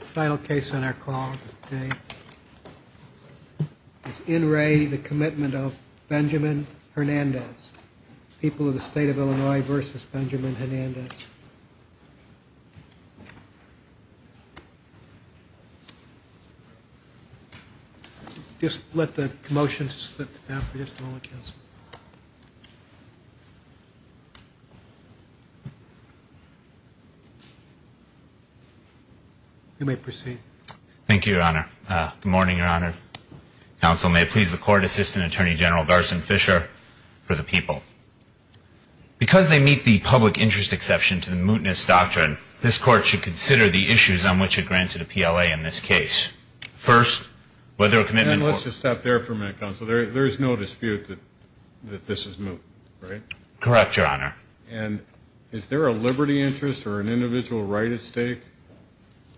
Final case on our call today is in re the Commitment of Benjamin Hernandez people of the state of Illinois versus Benjamin Hernandez just let the motion slip down for just a moment counsel you may proceed thank you your honor good morning your honor counsel may please the court assistant attorney general Garson Fisher for the people because they meet the public interest exception to the mootness doctrine this court should consider the issues on which it granted a PLA in this case first whether a commitment let's just stop there for a minute counsel there there's no dispute that this is moot right correct your honor and is there a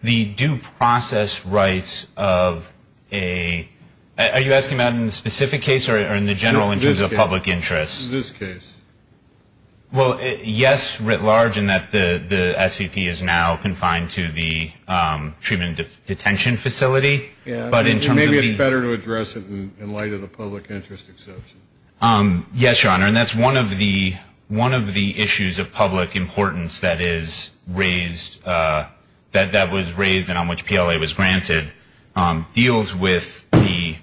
the due process rights of a are you asking about in the specific case or in the general interest of public interest this case well yes writ large and that the the SVP is now confined to the treatment of detention facility yeah but internally better to address it in light of the public interest exception yes your honor and that's one of the one of the issues of public importance that is raised that that was raised and on which PLA was granted deals with the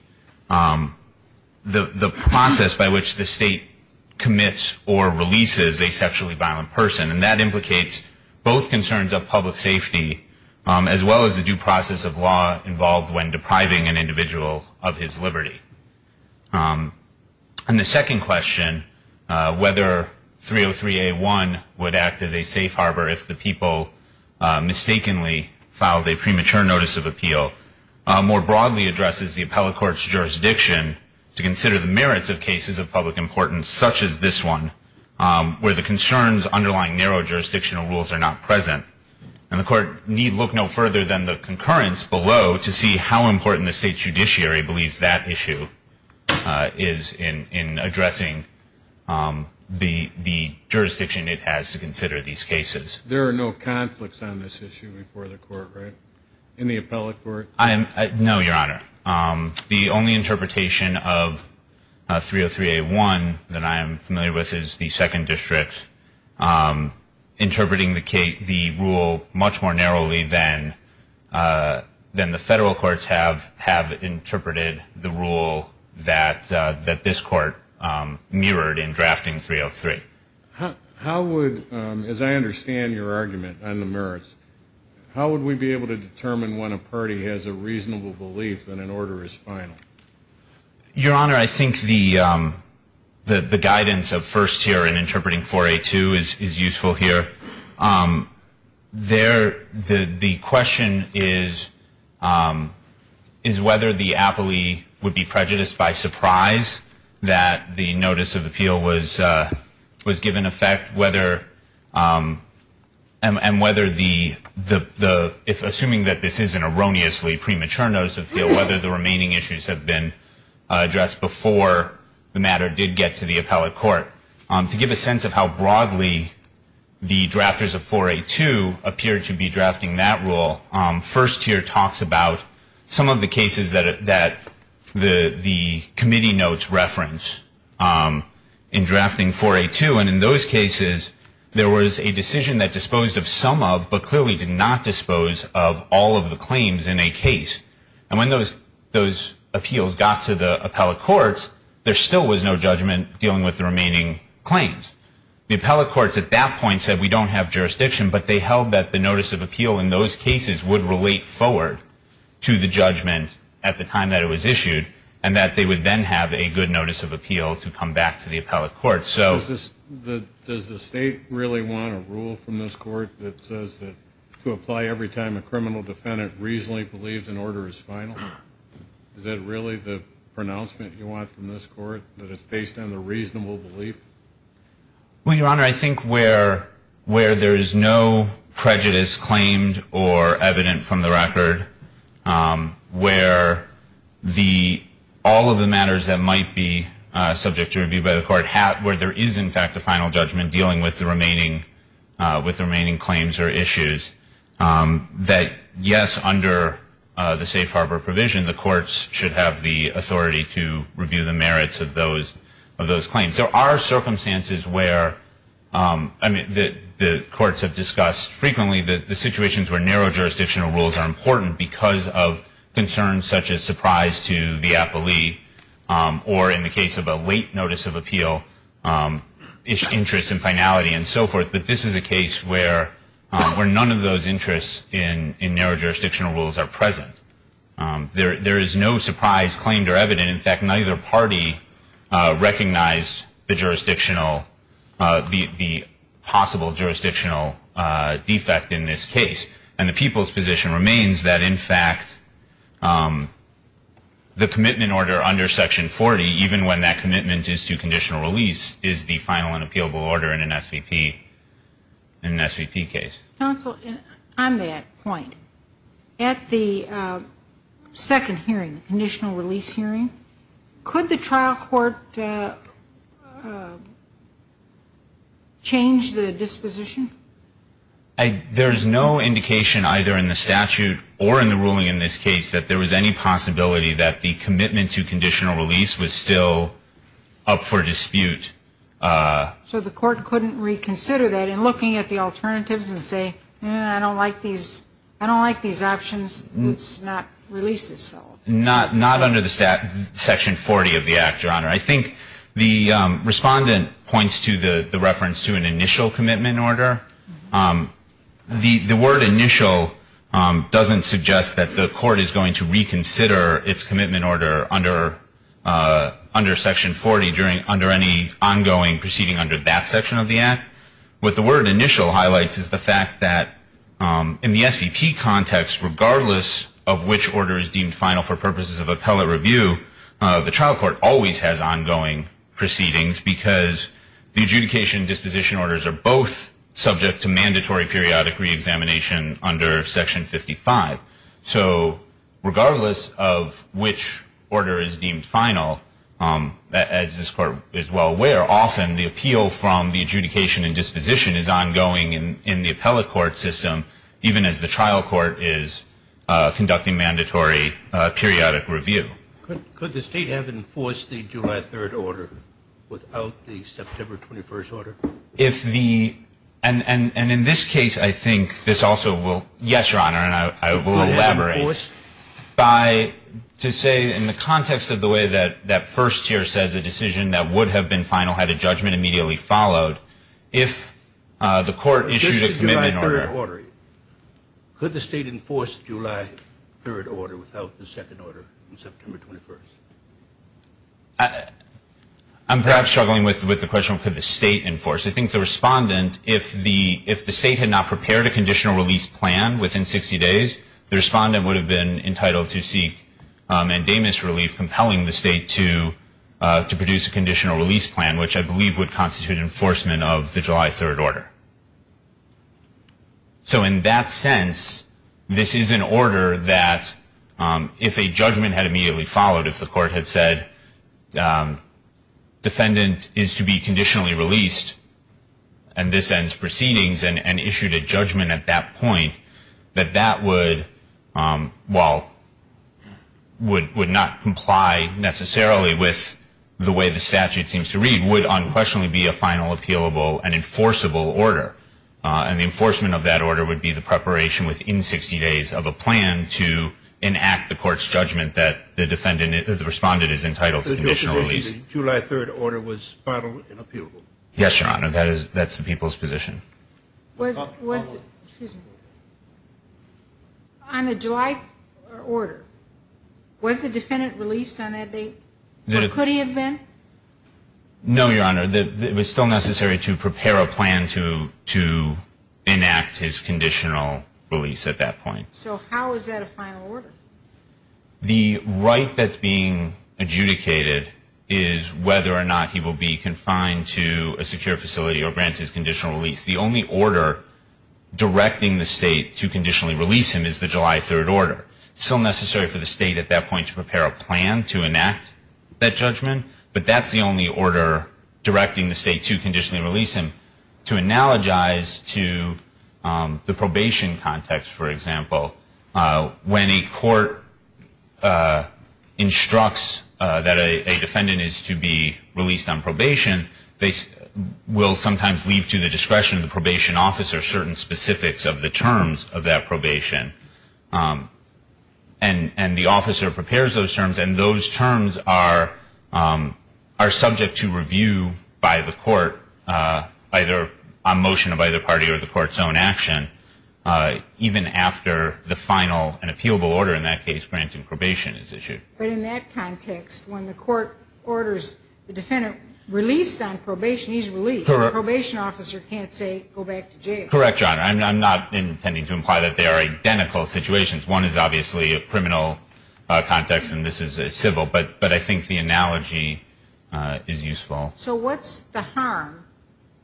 the process by which the state commits or releases a sexually violent person and that implicates both concerns of public safety as well as the due process of law involved when depriving an individual of his liberty and the second question whether 303 a1 would act as a safe harbor if the people mistakenly filed a premature notice of appeal more broadly addresses the appellate courts jurisdiction to consider the merits of cases of public importance such as this one where the concerns underlying narrow jurisdictional rules are not present and the court need look no further than the concurrence below to see how important the state judiciary believes that issue is in in addressing the the jurisdiction it has to consider these cases there are no conflicts on this issue before the court right in the appellate court I am no your honor the only interpretation of 303 a1 that I am familiar with is the second district interpreting the Kate the rule much more narrowly than than the federal courts have have interpreted the rule that that this court mirrored in drafting 303 how would as I understand your argument on the merits how would we be able to determine when a party has a reasonable belief that an order is final your honor I think the the guidance of first year in interpreting for a two is is useful here there the the question is is whether the aptly would be prejudiced by surprise that the notice of appeal was was given effect whether and whether the the the if assuming that this is an erroneously premature notice of whether the remaining issues have been addressed before the matter did get to the appellate court on to give a sense of how broadly the drafters of 482 appear to be drafting that rule on first year talks about some of the cases that that the the committee notes reference in drafting for a two and in those cases there was a decision that disposed of some of but clearly did not dispose of all of the claims in a case and when those those appeals got to the appellate courts there still was no judgment dealing with the remaining claims the appellate courts at that point said we don't have jurisdiction but they held that the notice of appeal in those cases would relate forward to the judgment at the time that it was issued and that they would then have a good notice of appeal to come back to the appellate court so this the does the state really want a rule from this court that says that to apply every time a criminal defendant reasonably believes an order is final is that really the pronouncement you want from this court that it's based on the reasonable belief well your honor I think where where there is no prejudice claimed or evident from the record where the all of the matters that might be subject to review by the court where there is in fact a final judgment dealing with the remaining with the remaining claims or issues that yes under the safe harbor provision the courts should have the authority to review the merits of those of those claims there are circumstances where I mean that the courts have discussed frequently that the situations where narrow jurisdictional rules are important because of concerns such as surprise to the appellee or in the case of a late notice of appeal its interest in finality and so forth but this is a case where where none of those interests in in narrow jurisdictional rules are present there there is no surprise claimed or evident in fact neither party recognized the jurisdictional the possible jurisdictional defect in this case and the people's position remains that in fact the commitment order under section 40 even when that commitment is to conditional release is the final unappealable order in an SVP in an SVP case counsel on that point at the second hearing the conditional release hearing could the trial court change the disposition there is no indication either in the statute or in the ruling in this case that there was any possibility that the commitment to conditional release was still up for dispute so the court couldn't reconsider that in looking at the alternatives and say yeah I don't like these I don't like these options let's not release this not not under the stat section 40 of the act your honor I think the respondent points to the the reference to an initial commitment order the the word initial doesn't suggest that the court is going to reconsider its commitment order under under section 40 during under any ongoing proceeding under that section of the act with the word initial highlights is the fact that in the SVP context regardless of which order is deemed final for purposes of appellate review the trial court always has ongoing proceedings because the adjudication disposition orders are both subject to mandatory periodic reexamination under section 55 so regardless of which order is deemed final as this court is well aware often the appeal from the adjudication and disposition is ongoing in in the appellate court system even as the trial court is conducting mandatory periodic review could the state have enforced the I think this also will yes your honor and I will elaborate by to say in the context of the way that that first year says a decision that would have been final had a judgment immediately followed if the court issued a commitment order could the state enforce July 3rd order without the second order I'm perhaps struggling with with the question could the state enforce I think the respondent if the if the state had not prepared a conditional release plan within 60 days the respondent would have been entitled to seek and a misrelief compelling the state to to produce a conditional release plan which I believe would constitute enforcement of the July 3rd order so in that sense this is an order that if a judgment had immediately followed if the court had said defendant is to be conditionally released and this ends proceedings and issued a judgment at that point that that would well would would not comply necessarily with the way the statute seems to read would unquestionably be a final appealable and enforceable order and the enforcement of that order would be the preparation within 60 days of a plan to enact the court's judgment that the defendant is the respondent is entitled to the July 3rd order was yes your honor that is that's the people's position was on a July order was the defendant released on that date could he have been no your honor that it was still necessary to prepare a plan to to enact his conditional release at that point so how is that a final order the right that's being adjudicated is whether or not he will be confined to a secure facility or grant his conditional release the only order directing the state to conditionally release him is the July 3rd order so necessary for the state at that point to prepare a plan to enact that judgment but that's the only order directing the state to when a court instructs that a defendant is to be released on probation they will sometimes leave to the discretion of the probation officer certain specifics of the terms of that probation and and the officer prepares those terms and those terms are are subject to review by the court either a motion of either party or the court's own action even after the final an appealable order in that case granting probation is issued but in that context when the court orders the defendant released on probation he's released probation officer can't say go back to jail correct your honor I'm not intending to imply that they are identical situations one is obviously a criminal context and this is a civil but but I think the analogy is useful so what's the harm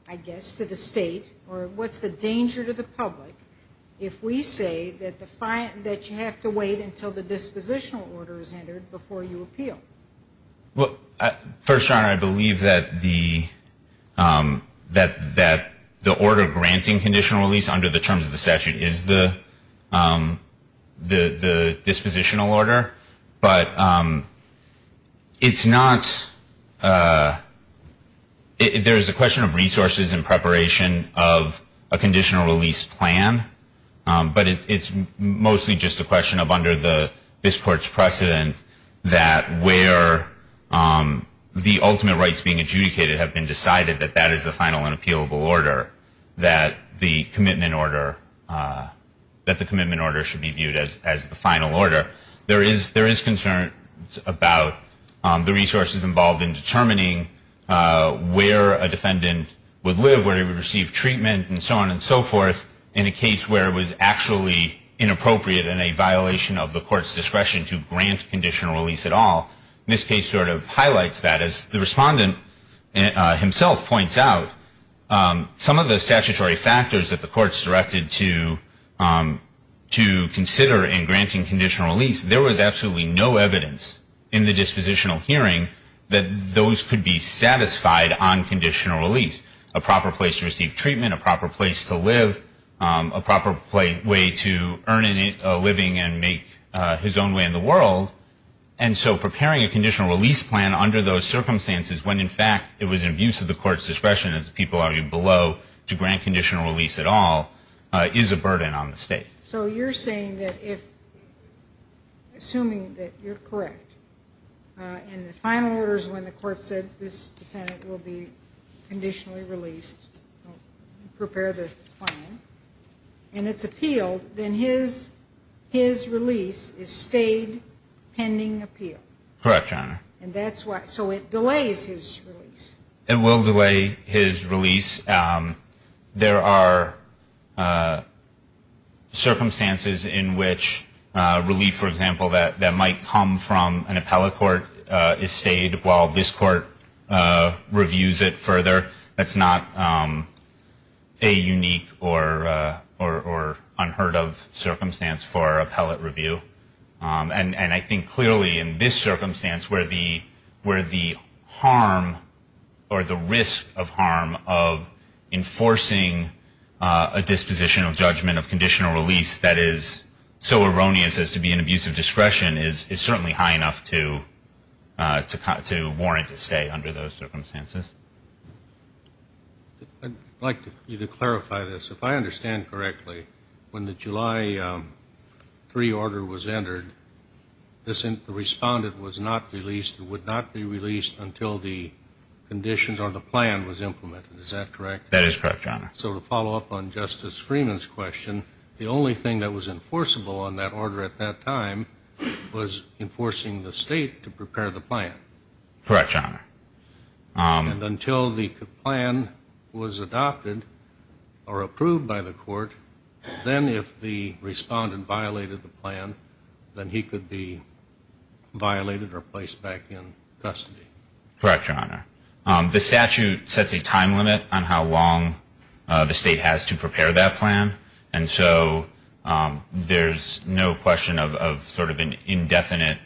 I guess to the state or what's the danger to the public if we say that the fine that you have to wait until the dispositional order is entered before you appeal well first I believe that the that that the order granting conditional release under the terms of the statute is the the the dispositional order but it's not if there is a resources in preparation of a conditional release plan but it's mostly just a question of under the this court's precedent that where the ultimate rights being adjudicated have been decided that that is the final and appealable order that the commitment order that the commitment order should be viewed as as the final order there is there is concern about the resources involved in determining where a defendant would live where he would receive treatment and so on and so forth in a case where it was actually inappropriate in a violation of the court's discretion to grant conditional release at all this case sort of highlights that as the respondent himself points out some of the statutory factors that the courts directed to to consider in granting conditional release there was absolutely no evidence in the that those could be satisfied on conditional release a proper place to receive treatment a proper place to live a proper play way to earn a living and make his own way in the world and so preparing a conditional release plan under those circumstances when in fact it was an abuse of the court's discretion as people are you below to grant conditional release at all is a burden on the state so you're saying that if assuming that you're correct and the final orders when the court said this defendant will be conditionally released prepare the final and it's appealed then his his release is stayed pending appeal correction and that's why so it delays his release and will delay his release there are circumstances in which relief for example that that might come from an appellate court is stayed while this court reviews it further that's not a unique or or unheard of circumstance for appellate review and and I think clearly in this circumstance where the where the harm or the risk of harm of enforcing a dispositional judgment of conditional release that is so erroneous as to be an abuse of discretion is is certainly high enough to to cut to warrant to stay under those circumstances like you to clarify this if I understand correctly when the July 3 order was entered this in the respondent was not released it would not be released until the conditions or the plan was implemented is that correct that is correct John so to follow up on that order at that time was enforcing the state to prepare the plan correction and until the plan was adopted or approved by the court then if the respondent violated the plan then he could be violated or placed back in custody correct your honor the statute sets a time limit on how long the state has to prepare that plan and so there's no question of sort of an indefinite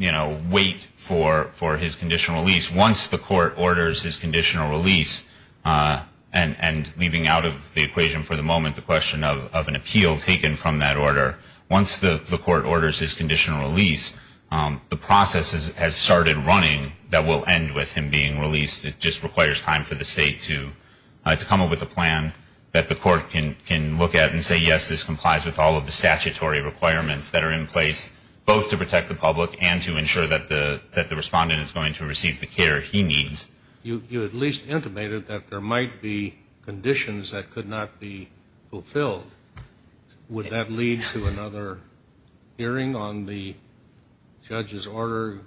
you know wait for for his conditional release once the court orders his conditional release and and leaving out of the equation for the moment the question of an appeal taken from that order once the court orders his conditional release the process has started running that will end with him just requires time for the state to come up with a plan that the court can look at and say yes this complies with all of the statutory requirements that are in place both to protect the public and to ensure that the that the respondent is going to receive the care he needs you at least intimated that there might be conditions that could not be fulfilled would that lead to another hearing on the judge's order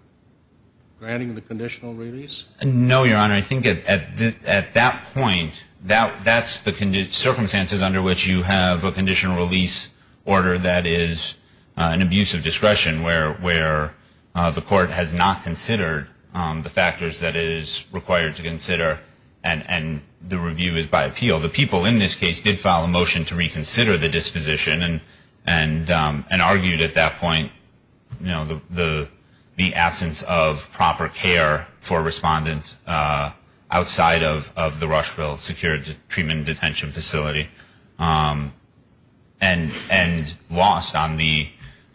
granting the conditional release no your honor I think it at that point that that's the condition circumstances under which you have a conditional release order that is an abuse of discretion where where the court has not considered the factors that is required to consider and and the review is by appeal the people in this case did file a motion to reconsider the you know the the the absence of proper care for respondents outside of of the Rushville secured treatment detention facility and and lost on the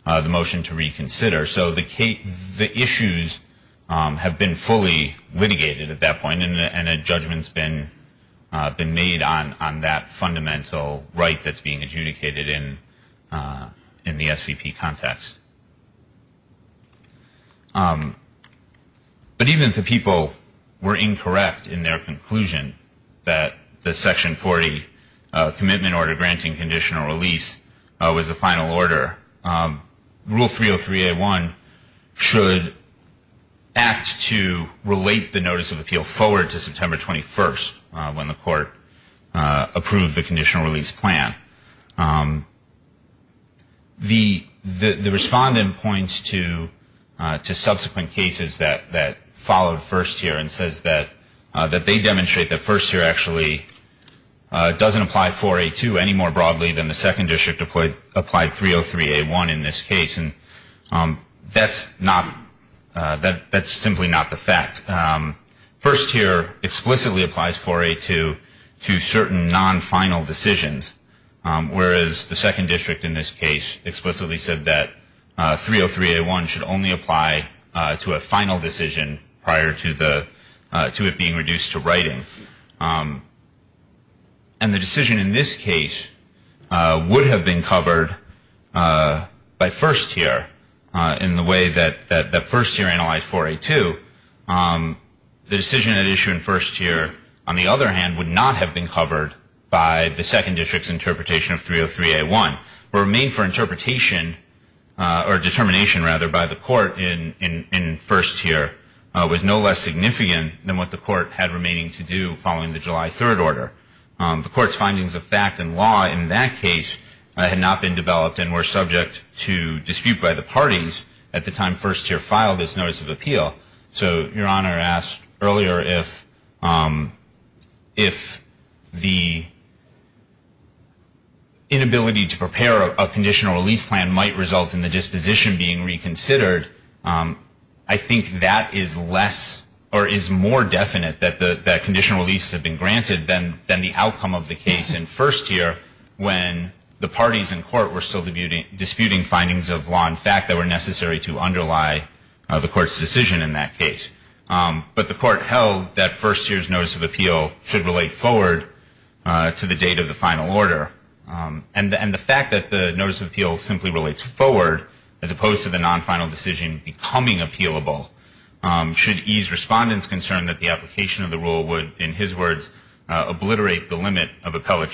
the motion to reconsider so the Kate the issues have been fully litigated at that point and a judgment's been been made on on that fundamental right that's being adjudicated in in the SVP context but even two people were incorrect in their conclusion that the section 40 commitment order granting conditional release was a final order rule 303 a1 should act to relate the notice of appeal forward to September 21st when the court approved the conditional release plan the the respondent points to two subsequent cases that that followed first year and says that that they demonstrate that first year actually doesn't apply for a to any more broadly than the second district deployed applied 303 a1 in this case and that's not that that's simply not the fact that first year explicitly applies for a to to certain non-final decisions whereas the second district in this case explicitly said that 303 a1 should only apply to a final decision prior to the to it being reduced to writing and the decision in this case would have been covered by first year in the way that that first-year analyzed for a to the decision at issue in first year on the other hand would not have been covered by the second district interpretation of 303 a1 remain for interpretation or determination rather by the court in in in first year was no less significant than what the court had remaining to do following the July 3rd order the court's findings of fact and law in that case had not been developed and were subject to dispute by the parties at the time first-year file this notice of appeal so your honor asked earlier if if the inability to prepare a conditional release plan might result in the disposition being reconsidered I think that is less or is more definite that the conditional releases have been granted then then the outcome of the case in first year when the parties in court were still the beauty disputing findings of law in fact that were necessary to underlie the court's decision in that case but the court held that first year's notice of appeal should relate forward to the date of the final order and and the fact that the notice of appeal simply relates forward as opposed to the non final decision becoming appealable should ease respondents concern that the application of the rule would in his words obliterate the limit of appellate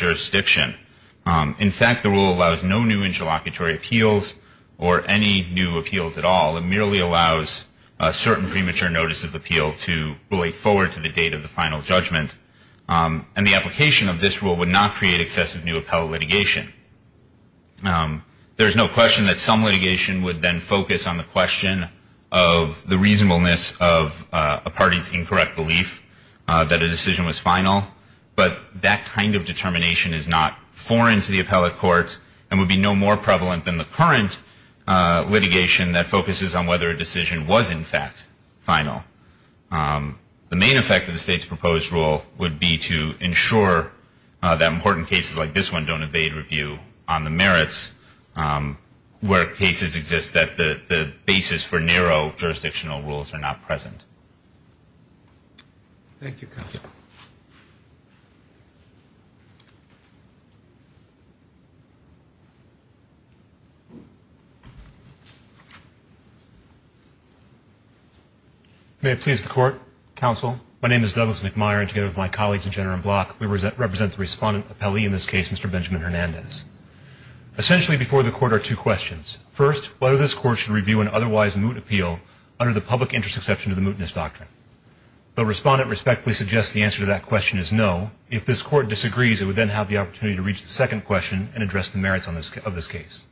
appeals or any new appeals at all it merely allows a certain premature notice of appeal to relate forward to the date of the final judgment and the application of this rule would not create excessive new appellate litigation there's no question that some litigation would then focus on the question of the reasonableness of a party's incorrect belief that a decision was final but that kind of determination is not foreign to the appellate courts and would be no more prevalent than the current litigation that focuses on whether a decision was in fact final the main effect of the state's proposed rule would be to ensure that important cases like this one don't evade review on the merits where cases exist that the the basis for narrow jurisdictional rules are not present thank you may it please the court counsel my name is Douglas McMyer and together with my colleagues in general block we represent represent the respondent appellee in this case mr. Benjamin Hernandez essentially before the court are two questions first whether this court should review an otherwise moot appeal under the public interest exception to the mootness doctrine the respondent respectfully suggests the answer to that question is no if this court disagrees it would then have the opportunity to reach the second question and address the merits on this of this case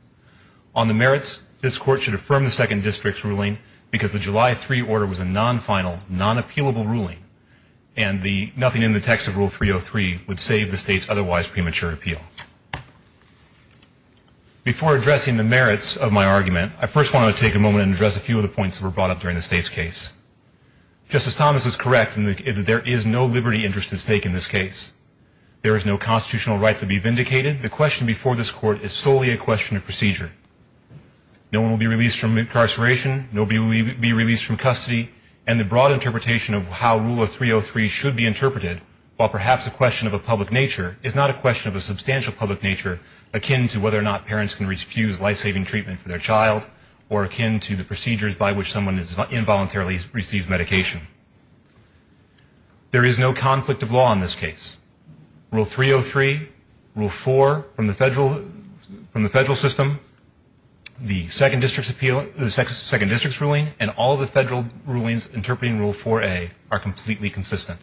on the merits this court should affirm the second district's ruling because the July 3 order was a non-final non appealable ruling and the nothing in the text of rule 303 would save the state's otherwise premature appeal before addressing the merits of my argument I first want to take a moment and address a few of the points that were brought up during the state's case justice Thomas is correct in that there is no liberty interest at stake in this case there is no constitutional right to be vindicated the question before this court is solely a question of procedure no one will be released from incarceration nobody will even be released from custody and the broad interpretation of how rule of 303 should be interpreted while perhaps a question of a public nature is not a question of a substantial public nature akin to whether or not parents can refuse life-saving treatment for their child or akin to the procedures by which someone is involuntarily receives medication there is no conflict of law in this case rule 303 rule 4 from the federal from the federal system the second district's appeal the second district's ruling and all the federal rulings interpreting rule 4a are completely consistent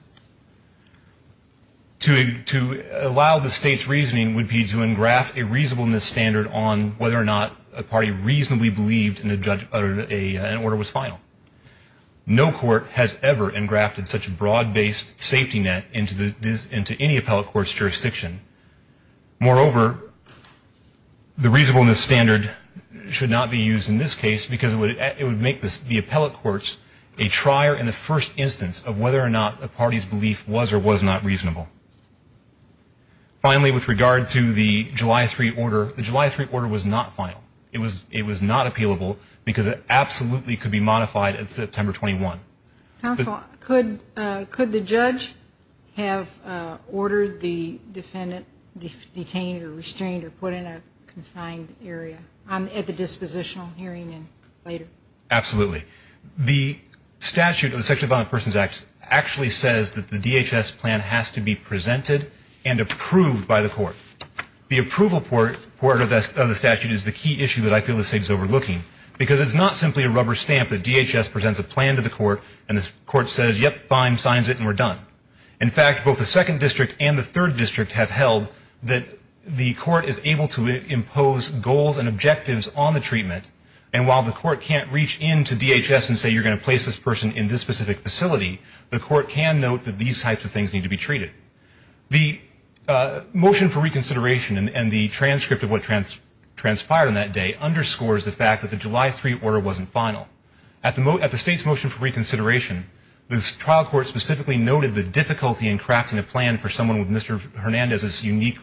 to allow the state's reasoning would be to engraft a reasonably believed in a judge uttered a an order was final no court has ever engrafted such a broad-based safety net into the into any appellate courts jurisdiction moreover the reasonableness standard should not be used in this case because it would it would make this the appellate courts a trier in the first instance of whether or not a party's belief was or was not reasonable finally with regard to the July 3 order the July 3 order was not final it was it was not appealable because it absolutely could be modified at September 21 council could could the judge have ordered the defendant detained or restrained or put in a confined area I'm at the dispositional hearing and later absolutely the statute of the section about persons act actually says that the court the approval for the statute is the key issue that I feel the state is overlooking because it's not simply a rubber stamp that DHS presents a plan to the court and this court says yep fine signs it and we're done in fact both the second district and the third district have held that the court is able to impose goals and objectives on the treatment and while the court can't reach into DHS and say you're going to place this person in this specific facility the court can note that these types of things need to be treated the motion for reconsideration and the transcript of what transpired on that day underscores the fact that the July 3 order wasn't final at the moat at the state's motion for reconsideration this trial court specifically noted the difficulty in crafting a plan for someone with mr. Hernandez's unique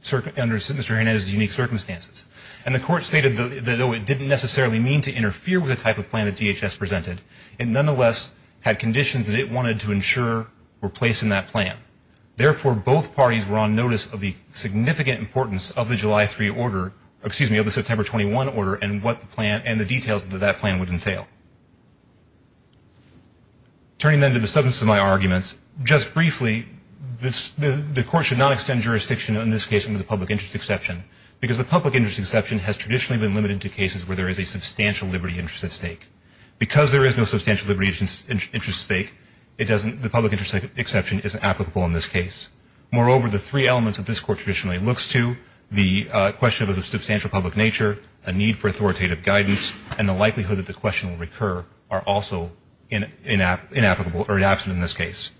circuit under sinister in his unique circumstances and the court stated the though it didn't necessarily mean to interfere with a type of plan that DHS presented and nonetheless had conditions that it wanted to ensure were placed in that plan therefore both parties were on notice of the significant importance of the July 3 order excuse me of the September 21 order and what the plan and the details that that plan would entail turning them to the substance of my arguments just briefly this the court should not extend jurisdiction in this case into the public interest exception because the public interest exception has traditionally been limited to cases where there is a substantial liberty interest at stake because there is no substantial liberties interest stake it doesn't the public interest exception is applicable in this case moreover the three elements of this court traditionally looks to the question of a substantial public nature a need for authoritative guidance and the likelihood that the question will recur are also in an app inapplicable or an absent in this case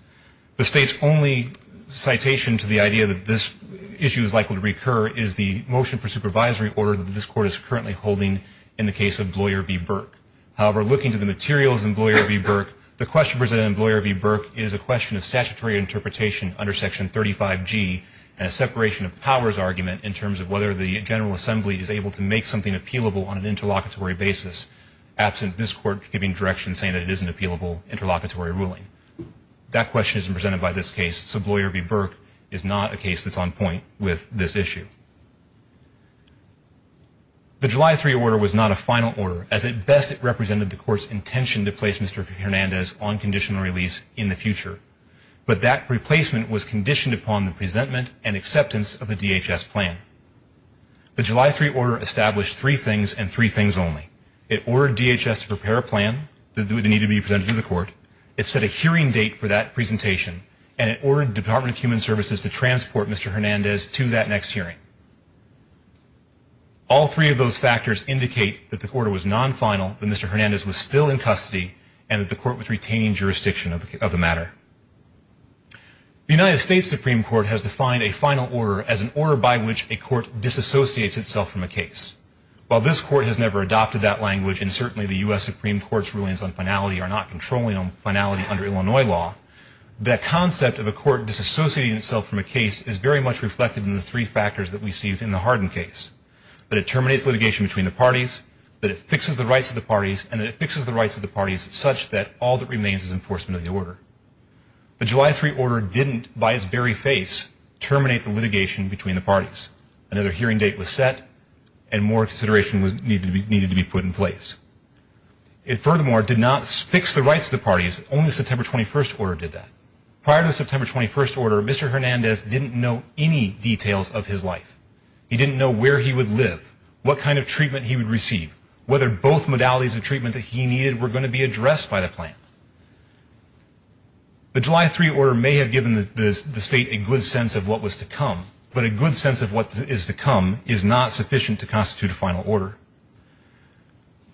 the state's only citation to the idea that this issue is likely to recur is the motion for supervisory order that this court is currently holding in the case of lawyer v Burke however looking to the materials and lawyer v Burke the question lawyer v Burke is a question of statutory interpretation under section 35 G and a separation of powers argument in terms of whether the General Assembly is able to make something appealable on an interlocutory basis absent this court giving direction saying that it isn't appealable interlocutory ruling that question is presented by this case sub lawyer v Burke is not a case that's on point with this issue the July 3 order was not a final order as it best it intention to place mr. Hernandez on conditional release in the future but that replacement was conditioned upon the presentment and acceptance of the DHS plan the July 3 order established three things and three things only it ordered DHS to prepare a plan that would need to be presented to the court it set a hearing date for that presentation and it ordered Department of Human Services to transport mr. Hernandez to that next hearing all three of those factors indicate that the quarter was non-final than mr. Hernandez was still in custody and that the court was retaining jurisdiction of the matter the United States Supreme Court has defined a final order as an order by which a court disassociates itself from a case while this court has never adopted that language and certainly the US Supreme Court's rulings on finality are not controlling on finality under Illinois law that concept of a court disassociating itself from a case is very much reflected in the three factors that we see within the hardened case but it terminates litigation between the parties that it fixes the rights of the parties and it fixes the rights of the parties such that all that remains is enforcement of the order the July 3 order didn't by its very face terminate the litigation between the parties another hearing date was set and more consideration was needed to be needed to be put in place it furthermore did not fix the rights of the parties only September 21st order did that prior to September 21st order mr. Hernandez didn't know any details of his life he didn't know where he would live what kind of treatment he would receive whether both modalities of treatment that he needed were going to be addressed by the plan the July 3 order may have given the state a good sense of what was to come but a good sense of what is to come is not sufficient to constitute a final order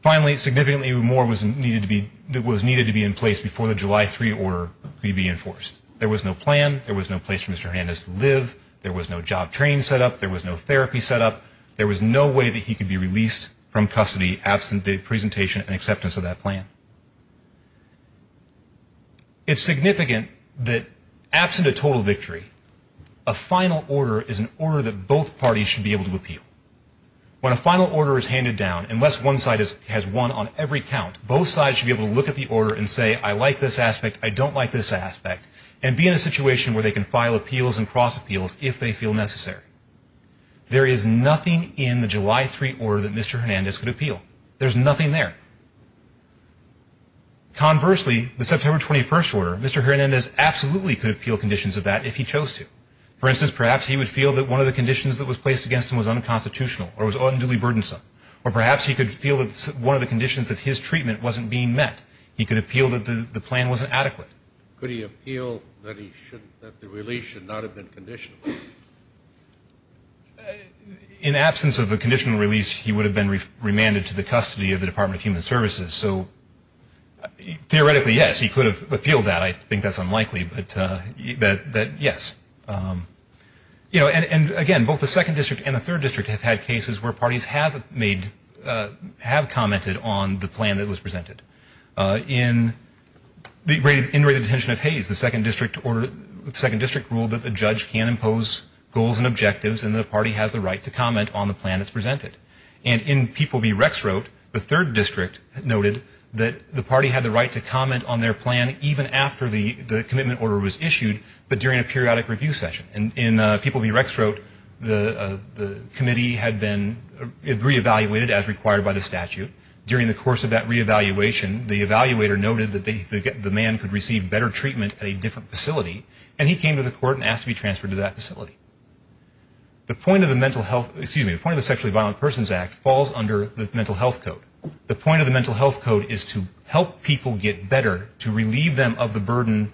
finally significantly more was needed to be that was needed to be in place before the July 3 order could be enforced there was no plan there was no place for mr. Hernandez to live there was no job training set up there was no therapy set up there was no way that he could be released from custody absent the presentation and acceptance of that plan it's significant that absent a total victory a final order is an order that both parties should be able to appeal when a final order is handed down unless one side is has one on every count both sides should be able to look at the order and say I like this aspect I don't like this aspect and be in a situation where they can file appeals and cross appeals if they feel necessary there is nothing in the July 3 or that mr. Hernandez could appeal there's nothing there conversely the September 21st were mr. Hernandez absolutely could appeal conditions of that if he chose to for instance perhaps he would feel that one of the conditions that was placed against him was unconstitutional or was unduly burdensome or perhaps he could feel it's one of the conditions of his treatment wasn't being met he could appeal that the plan wasn't adequate could he appeal that he should that the release should not have been conditional in absence of a conditional release he would have been remanded to the custody of the Department of Human Services so theoretically yes he could have appealed that I think that's unlikely but you bet that yes you know and again both the Second District and the Third District have had cases where parties have made have commented on the plan that was presented in the great in attention of Hayes the Second District or the Second District ruled that the judge can impose goals and objectives and the party has the right to comment on the plan that's presented and in people be Rex wrote the Third District noted that the party had the right to comment on their plan even after the the commitment order was issued but during a periodic review session and in people be Rex wrote the the committee had been re-evaluated as required by the statute during the course of that re-evaluation the evaluator noted that the man could receive better treatment at a different facility and he came to the court and asked to be transferred to that facility the point of the mental health excuse me the point of the sexually violent persons act falls under the mental health code the point of the mental health code is to help people get better to relieve them of the burden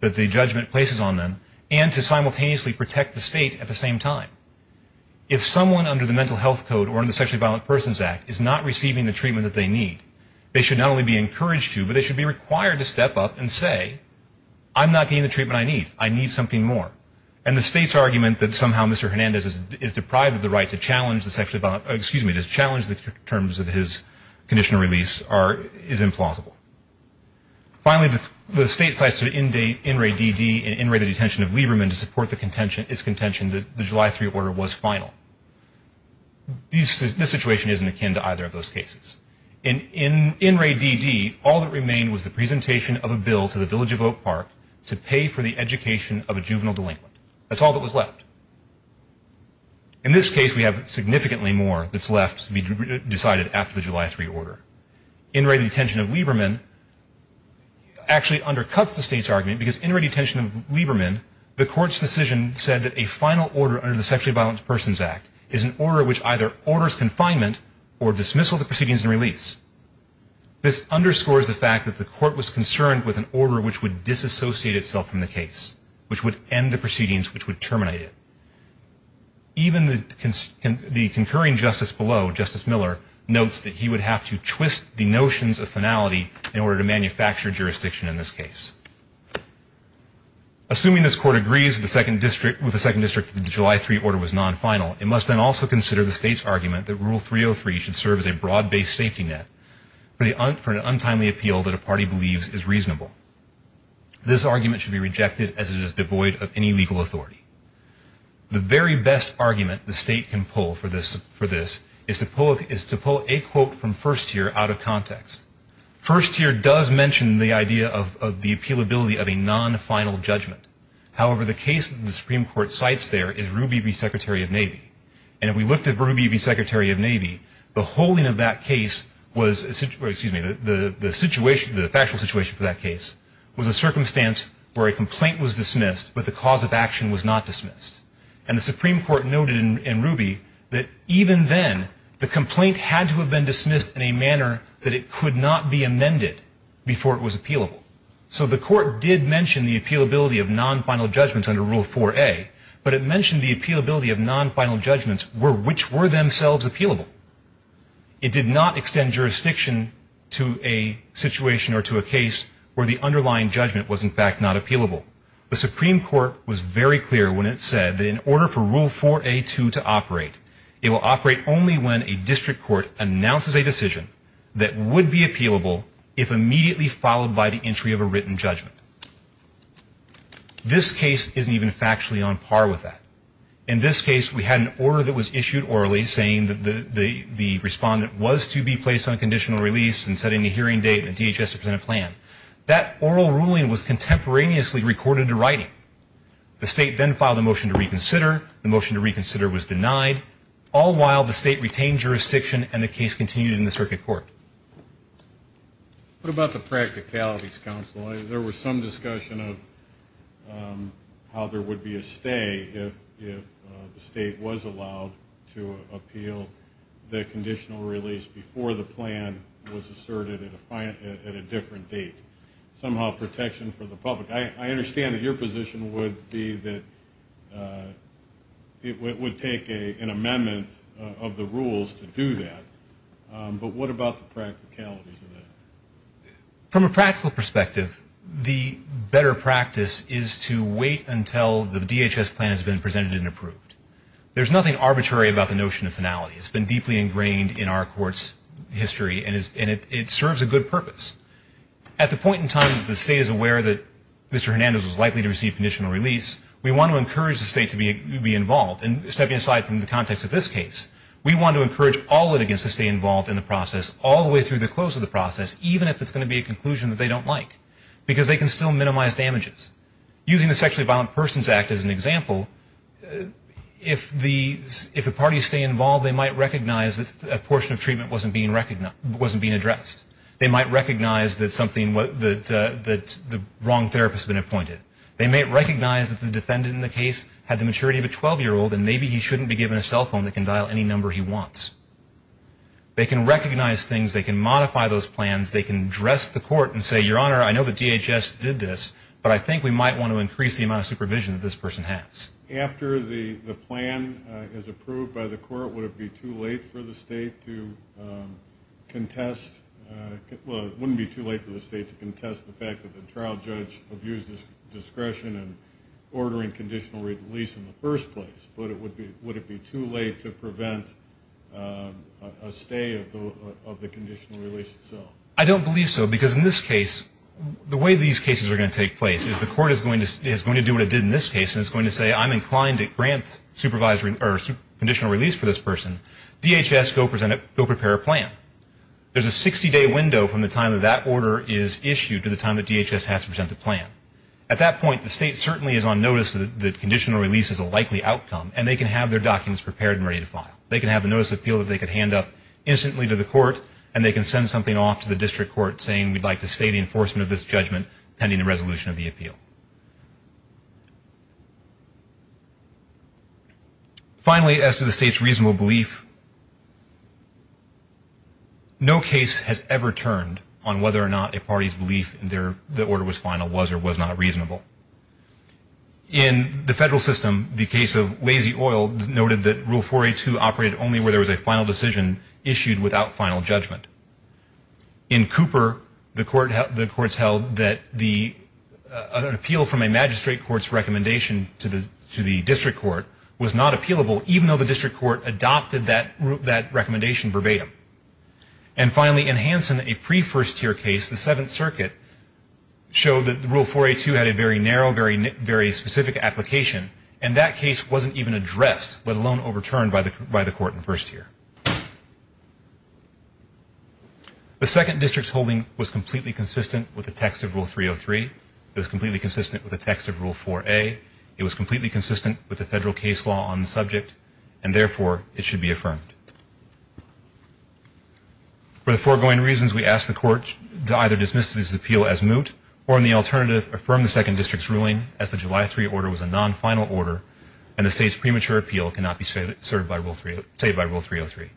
that the judgment places on them and to simultaneously protect the state at the same time if someone under the mental health code or in the sexually violent persons act is not receiving the treatment that they need they should not only be encouraged to but they should be required to step up and say I'm not getting the treatment I need I need something more and the state's argument that somehow Mr. Hernandez is deprived of the right to challenge the sexually violent excuse me to challenge the terms of his conditional release are is implausible finally the state cites to in date in Ray DD and in Ray the detention of Lieberman to support the contention its contention that the July 3 order was final these this situation isn't akin to either of those cases in in in Ray DD all that remained was the presentation of a bill to the village of Oak Park to pay for the education of a juvenile delinquent that's all that was left in this case we have significantly more that's left to be decided after the July 3 order in Ray the detention of Lieberman actually undercuts the state's argument because in Ray detention of Lieberman the court's decision said that a final order under the sexually violent Persons Act is an order which either orders confinement or dismissal the proceedings and release this underscores the fact that the court was concerned with an order which would disassociate itself from the case which would end the proceedings which would terminate it even the cons and the concurring justice below justice Miller notes that he would have to twist the notions of finality in order to manufacture jurisdiction in this case assuming this court agrees the second district with the second district the July 3 order was non-final it must then also consider the state's argument that rule 303 should serve as a broad-based safety net for the hunt for an untimely appeal that a party believes is reasonable this argument should be rejected as it is devoid of any legal authority the very best argument the state can pull for this for this is to pull is to pull a quote from first year out of context first year does mention the idea of the appeal ability of a non-final judgment however the case the Supreme Court sites there is Ruby be Secretary of Navy and if we looked at Ruby be Secretary of Navy the holding of that case was a situation the the situation the factual situation for that case was a circumstance where a complaint was dismissed but the cause of action was not dismissed and the Supreme Court noted in Ruby that even then the complaint had to have been dismissed in a manner that it could not be amended before it was appealable so the court did mention the appeal ability of non-final judgments under rule 4a but it mentioned the appeal ability of non-final judgments were which were themselves appealable it did not extend jurisdiction to a situation or to a case where the underlying judgment was in fact not appealable the Supreme Court was very clear when it said in order for rule 4a to to operate it will operate only when a district court announces a case is not appealable if immediately followed by the entry of a written judgment this case isn't even factually on par with that in this case we had an order that was issued orally saying that the the respondent was to be placed on conditional release and setting the hearing date and DHS to present a plan that oral ruling was contemporaneously recorded to writing the state then filed a motion to reconsider the motion to reconsider was denied all while the what about the practicalities counsel there was some discussion of how there would be a stay if the state was allowed to appeal the conditional release before the plan was asserted at a different date somehow protection for the public I understand that your position would be that it would take a an amendment of the from a practical perspective the better practice is to wait until the DHS plan has been presented and approved there's nothing arbitrary about the notion of finality it's been deeply ingrained in our courts history and is in it it serves a good purpose at the point in time the state is aware that mr. Hernandez was likely to receive conditional release we want to encourage the state to be involved and stepping aside from the context of this case we want to encourage all it against to stay involved in the process all the way through the close of the process even if it's going to be a conclusion that they don't like because they can still minimize damages using the sexually violent persons act as an example if the if the parties stay involved they might recognize that a portion of treatment wasn't being recognized wasn't being addressed they might recognize that something what the wrong therapist been appointed they may recognize that the defendant in the case had the maturity of a 12-year-old and maybe he shouldn't be given a cell phone that can number he wants they can recognize things they can modify those plans they can dress the court and say your honor I know the DHS did this but I think we might want to increase the amount of supervision that this person has after the the plan is approved by the court would it be too late for the state to contest wouldn't be too late for the state to contest the fact that the trial judge abused his discretion and ordering conditional release in the first place but it would be would it be too late to prevent a stay of the conditional release itself I don't believe so because in this case the way these cases are going to take place is the court is going to is going to do what it did in this case and it's going to say I'm inclined to grant supervisory or conditional release for this person DHS go present it go prepare a plan there's a 60-day window from the time of that order is issued to the time that DHS has to present the plan at that point the state certainly is on notice that the outcome and they can have their documents prepared and ready to file they can have the notice appeal that they could hand up instantly to the court and they can send something off to the district court saying we'd like to stay the enforcement of this judgment pending a resolution of the appeal finally as to the state's reasonable belief no case has ever turned on whether or not a party's belief in there the order was final was or was not reasonable in the case of lazy oil noted that rule for a to operate only where there was a final decision issued without final judgment in Cooper the court held the courts held that the other appeal from a magistrate courts recommendation to the to the district court was not appealable even though the district court adopted that route that recommendation verbatim and finally in Hanson a pre first-tier case the Seventh Circuit showed that the rule for a to had a very narrow very very specific application and that case wasn't even addressed let alone overturned by the by the court in first year the second district's holding was completely consistent with the text of rule 303 is completely consistent with the text of rule for a it was completely consistent with the federal case law on the subject and therefore it should be affirmed for the foregoing reasons we asked the court to either dismiss this appeal as moot or in the alternative affirm the second district's ruling as the July 3 order was a non-final order and the state's premature appeal cannot be said it served by rule 3 say by rule 303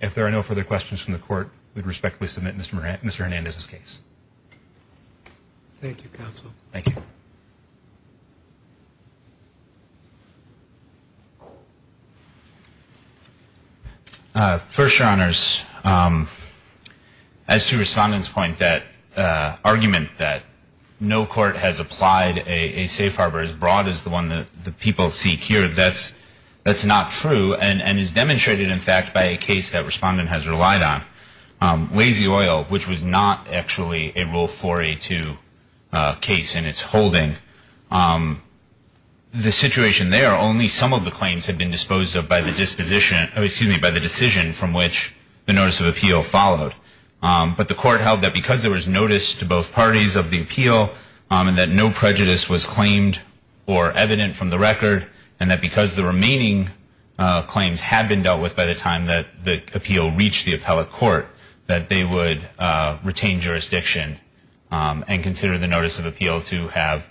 if there are no further questions from the court we'd respectfully submit mr. mr. Hernandez's case thank you counsel thank you first your honors as to respondents point that argument that no court has applied a safe harbor as broad as the one that the people seek here that's that's not true and and is demonstrated in fact by a case that respondent has relied on lazy oil which was not actually a rule for a to case and it's holding the situation there only some of the claims had been disposed of in the by the disposition excuse me by the decision from which the notice of appeal followed but the court held that because there was notice to both parties of the appeal and that no prejudice was claimed or evident from the record and that because the remaining claims had been dealt with by the time that the appeal reached the appellate court that they would retain jurisdiction and consider the notice of appeal to have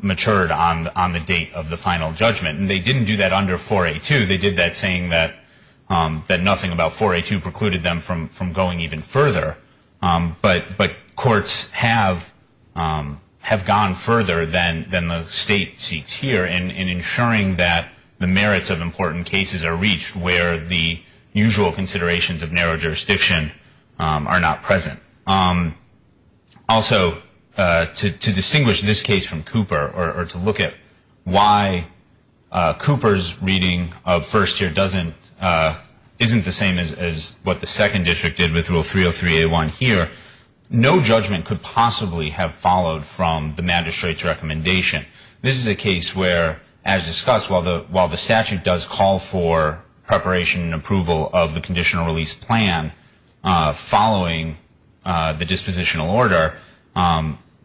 matured on on the date of the final judgment and they didn't do that under for a to they did that saying that that nothing about for a to precluded them from from going even further but but courts have have gone further than than the state seats here and in ensuring that the merits of important cases are reached where the usual considerations of narrow jurisdiction are not present also to distinguish this case from Cooper or to look at why Cooper's reading of first year doesn't isn't the same as what the second district did with rule 303 a1 here no judgment could possibly have followed from the magistrates recommendation this is a case where as discussed while the while the statute does call for preparation and approval of the conditional release plan following the dispositional order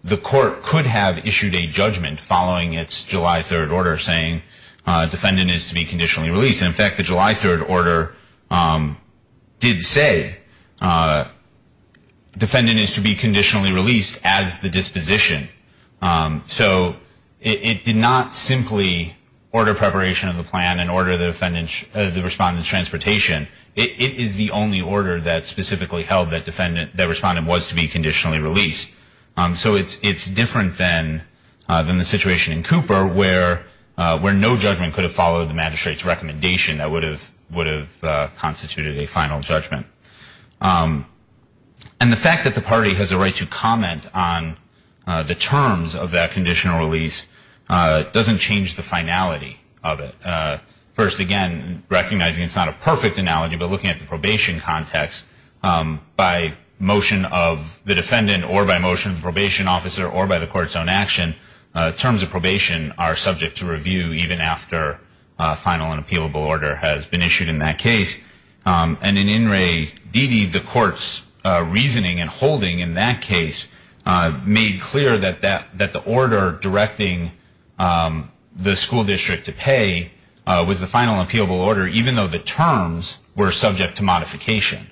the court could have issued a judgment following its July 3rd order saying defendant is to be conditionally released in fact the July 3rd order did say defendant is to be conditionally released as the disposition so it did not simply order preparation of the plan and order the defendant's the respondent's transportation it is the only order that specifically held that different than the situation in Cooper where where no judgment could have followed the magistrates recommendation that would have would have constituted a final judgment and the fact that the party has a right to comment on the terms of that conditional release doesn't change the finality of it first again recognizing it's not a perfect analogy but looking at the probation context by motion of the defendant or by motion of probation officer or by the court's own action terms of probation are subject to review even after final and appealable order has been issued in that case and in in Ray Dede the court's reasoning and holding in that case made clear that that that the order directing the school district to pay was the final appealable order even though the terms were subject to modification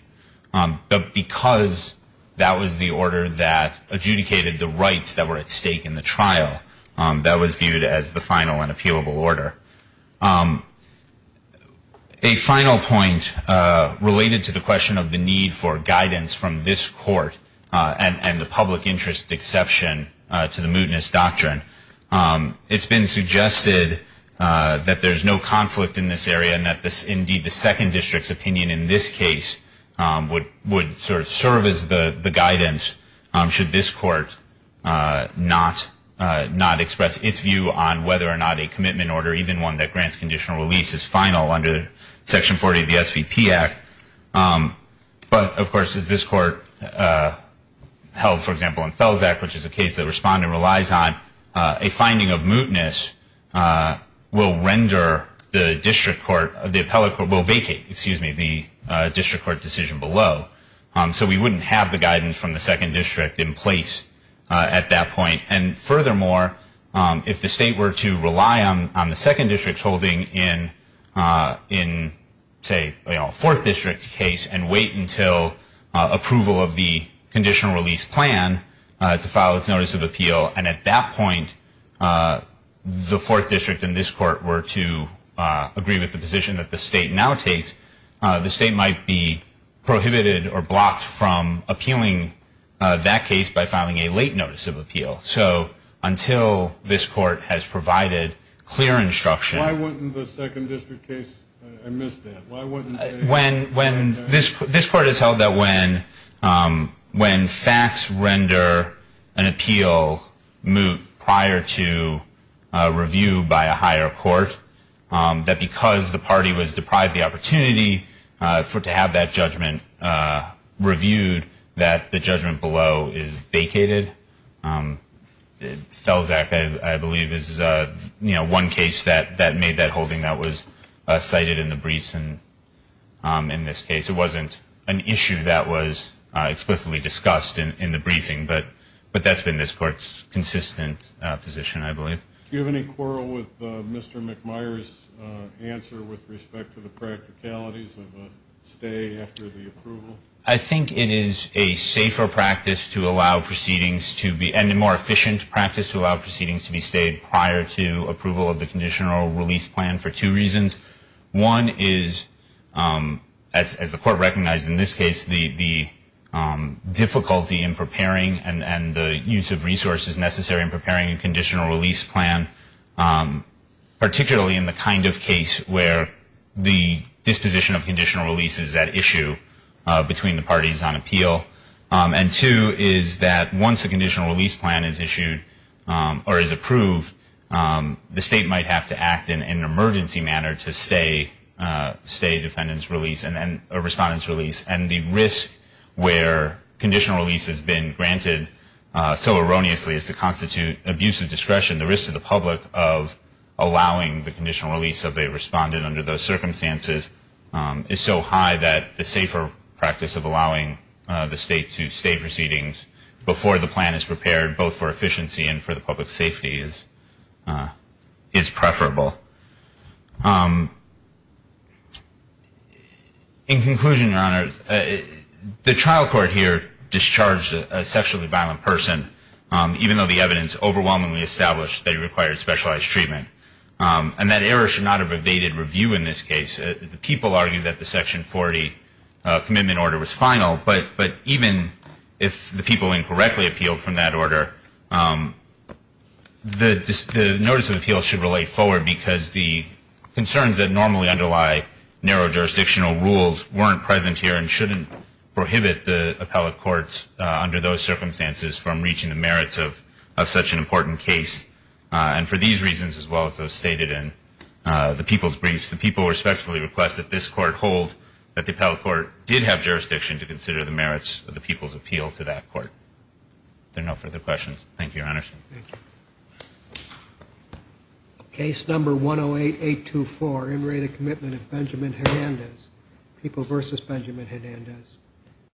but because that was the order that adjudicated the rights that were at stake in the trial that was viewed as the final and appealable order a final point related to the question of the need for guidance from this court and and the public interest exception to the mootness doctrine it's been suggested that there's no conflict in this area and that this indeed the second district's opinion in this case would would sort of serve as the the guidance should this court not not express its view on whether or not a commitment order even one that grants conditional release is final under section 40 of the SVP Act but of course is this court held for example in Fels Act which is a case that respondent relies on a finding of mootness will render the district court of the appellate court will vacate excuse me the district court decision below so we wouldn't have the guidance from the second district in place at that point and furthermore if the state were to rely on on the second district's holding in in say you know fourth district case and wait until approval of the and at that point the fourth district in this court were to agree with the position that the state now takes the state might be prohibited or blocked from appealing that case by filing a late notice of appeal so until this court has provided clear instruction when when this this court has held that when facts render an appeal moot prior to review by a higher court that because the party was deprived the opportunity for to have that judgment reviewed that the judgment below is vacated Fels Act I believe is a you know one case that that made that holding that was cited in the briefs and in this case it wasn't an issue that was explicitly discussed in the briefing but but that's been this court's consistent position I believe you have any quarrel with mr. mcmire's answer with respect to the practicalities of a stay after the approval I think it is a safer practice to allow proceedings to be and the more efficient practice to allow proceedings to be stayed prior to approval of the conditional release plan for two reasons one is as the court recognized in this case the the difficulty in preparing and and the use of resources necessary in preparing a conditional release plan particularly in the kind of case where the disposition of conditional release is that issue between the parties on appeal and two is that once a conditional release plan is issued or is approved the state might have to act in an emergency manner to stay stay defendants release and then a respondents release and the risk where conditional release has been granted so erroneously is to constitute abusive discretion the risk to the public of allowing the conditional release of a respondent under those circumstances is so high that the safer practice of allowing the state to stay proceedings before the plan is prepared both for in conclusion honors the trial court here discharged a sexually violent person even though the evidence overwhelmingly established that he required specialized treatment and that error should not have evaded review in this case the people argue that the section 40 commitment order was final but but even if the people incorrectly appealed from that order the notice of appeal should relate forward because the concerns that normally underlie narrow jurisdictional rules weren't present here and shouldn't prohibit the appellate courts under those circumstances from reaching the merits of such an important case and for these reasons as well as those stated in the people's briefs the people respectfully request that this court hold that the appellate court did have jurisdiction to consider the merits of the people's appeal to that court there no further questions thank you your honor case number 108 824 in rated commitment of Benjamin Hernandez people versus Benjamin Hernandez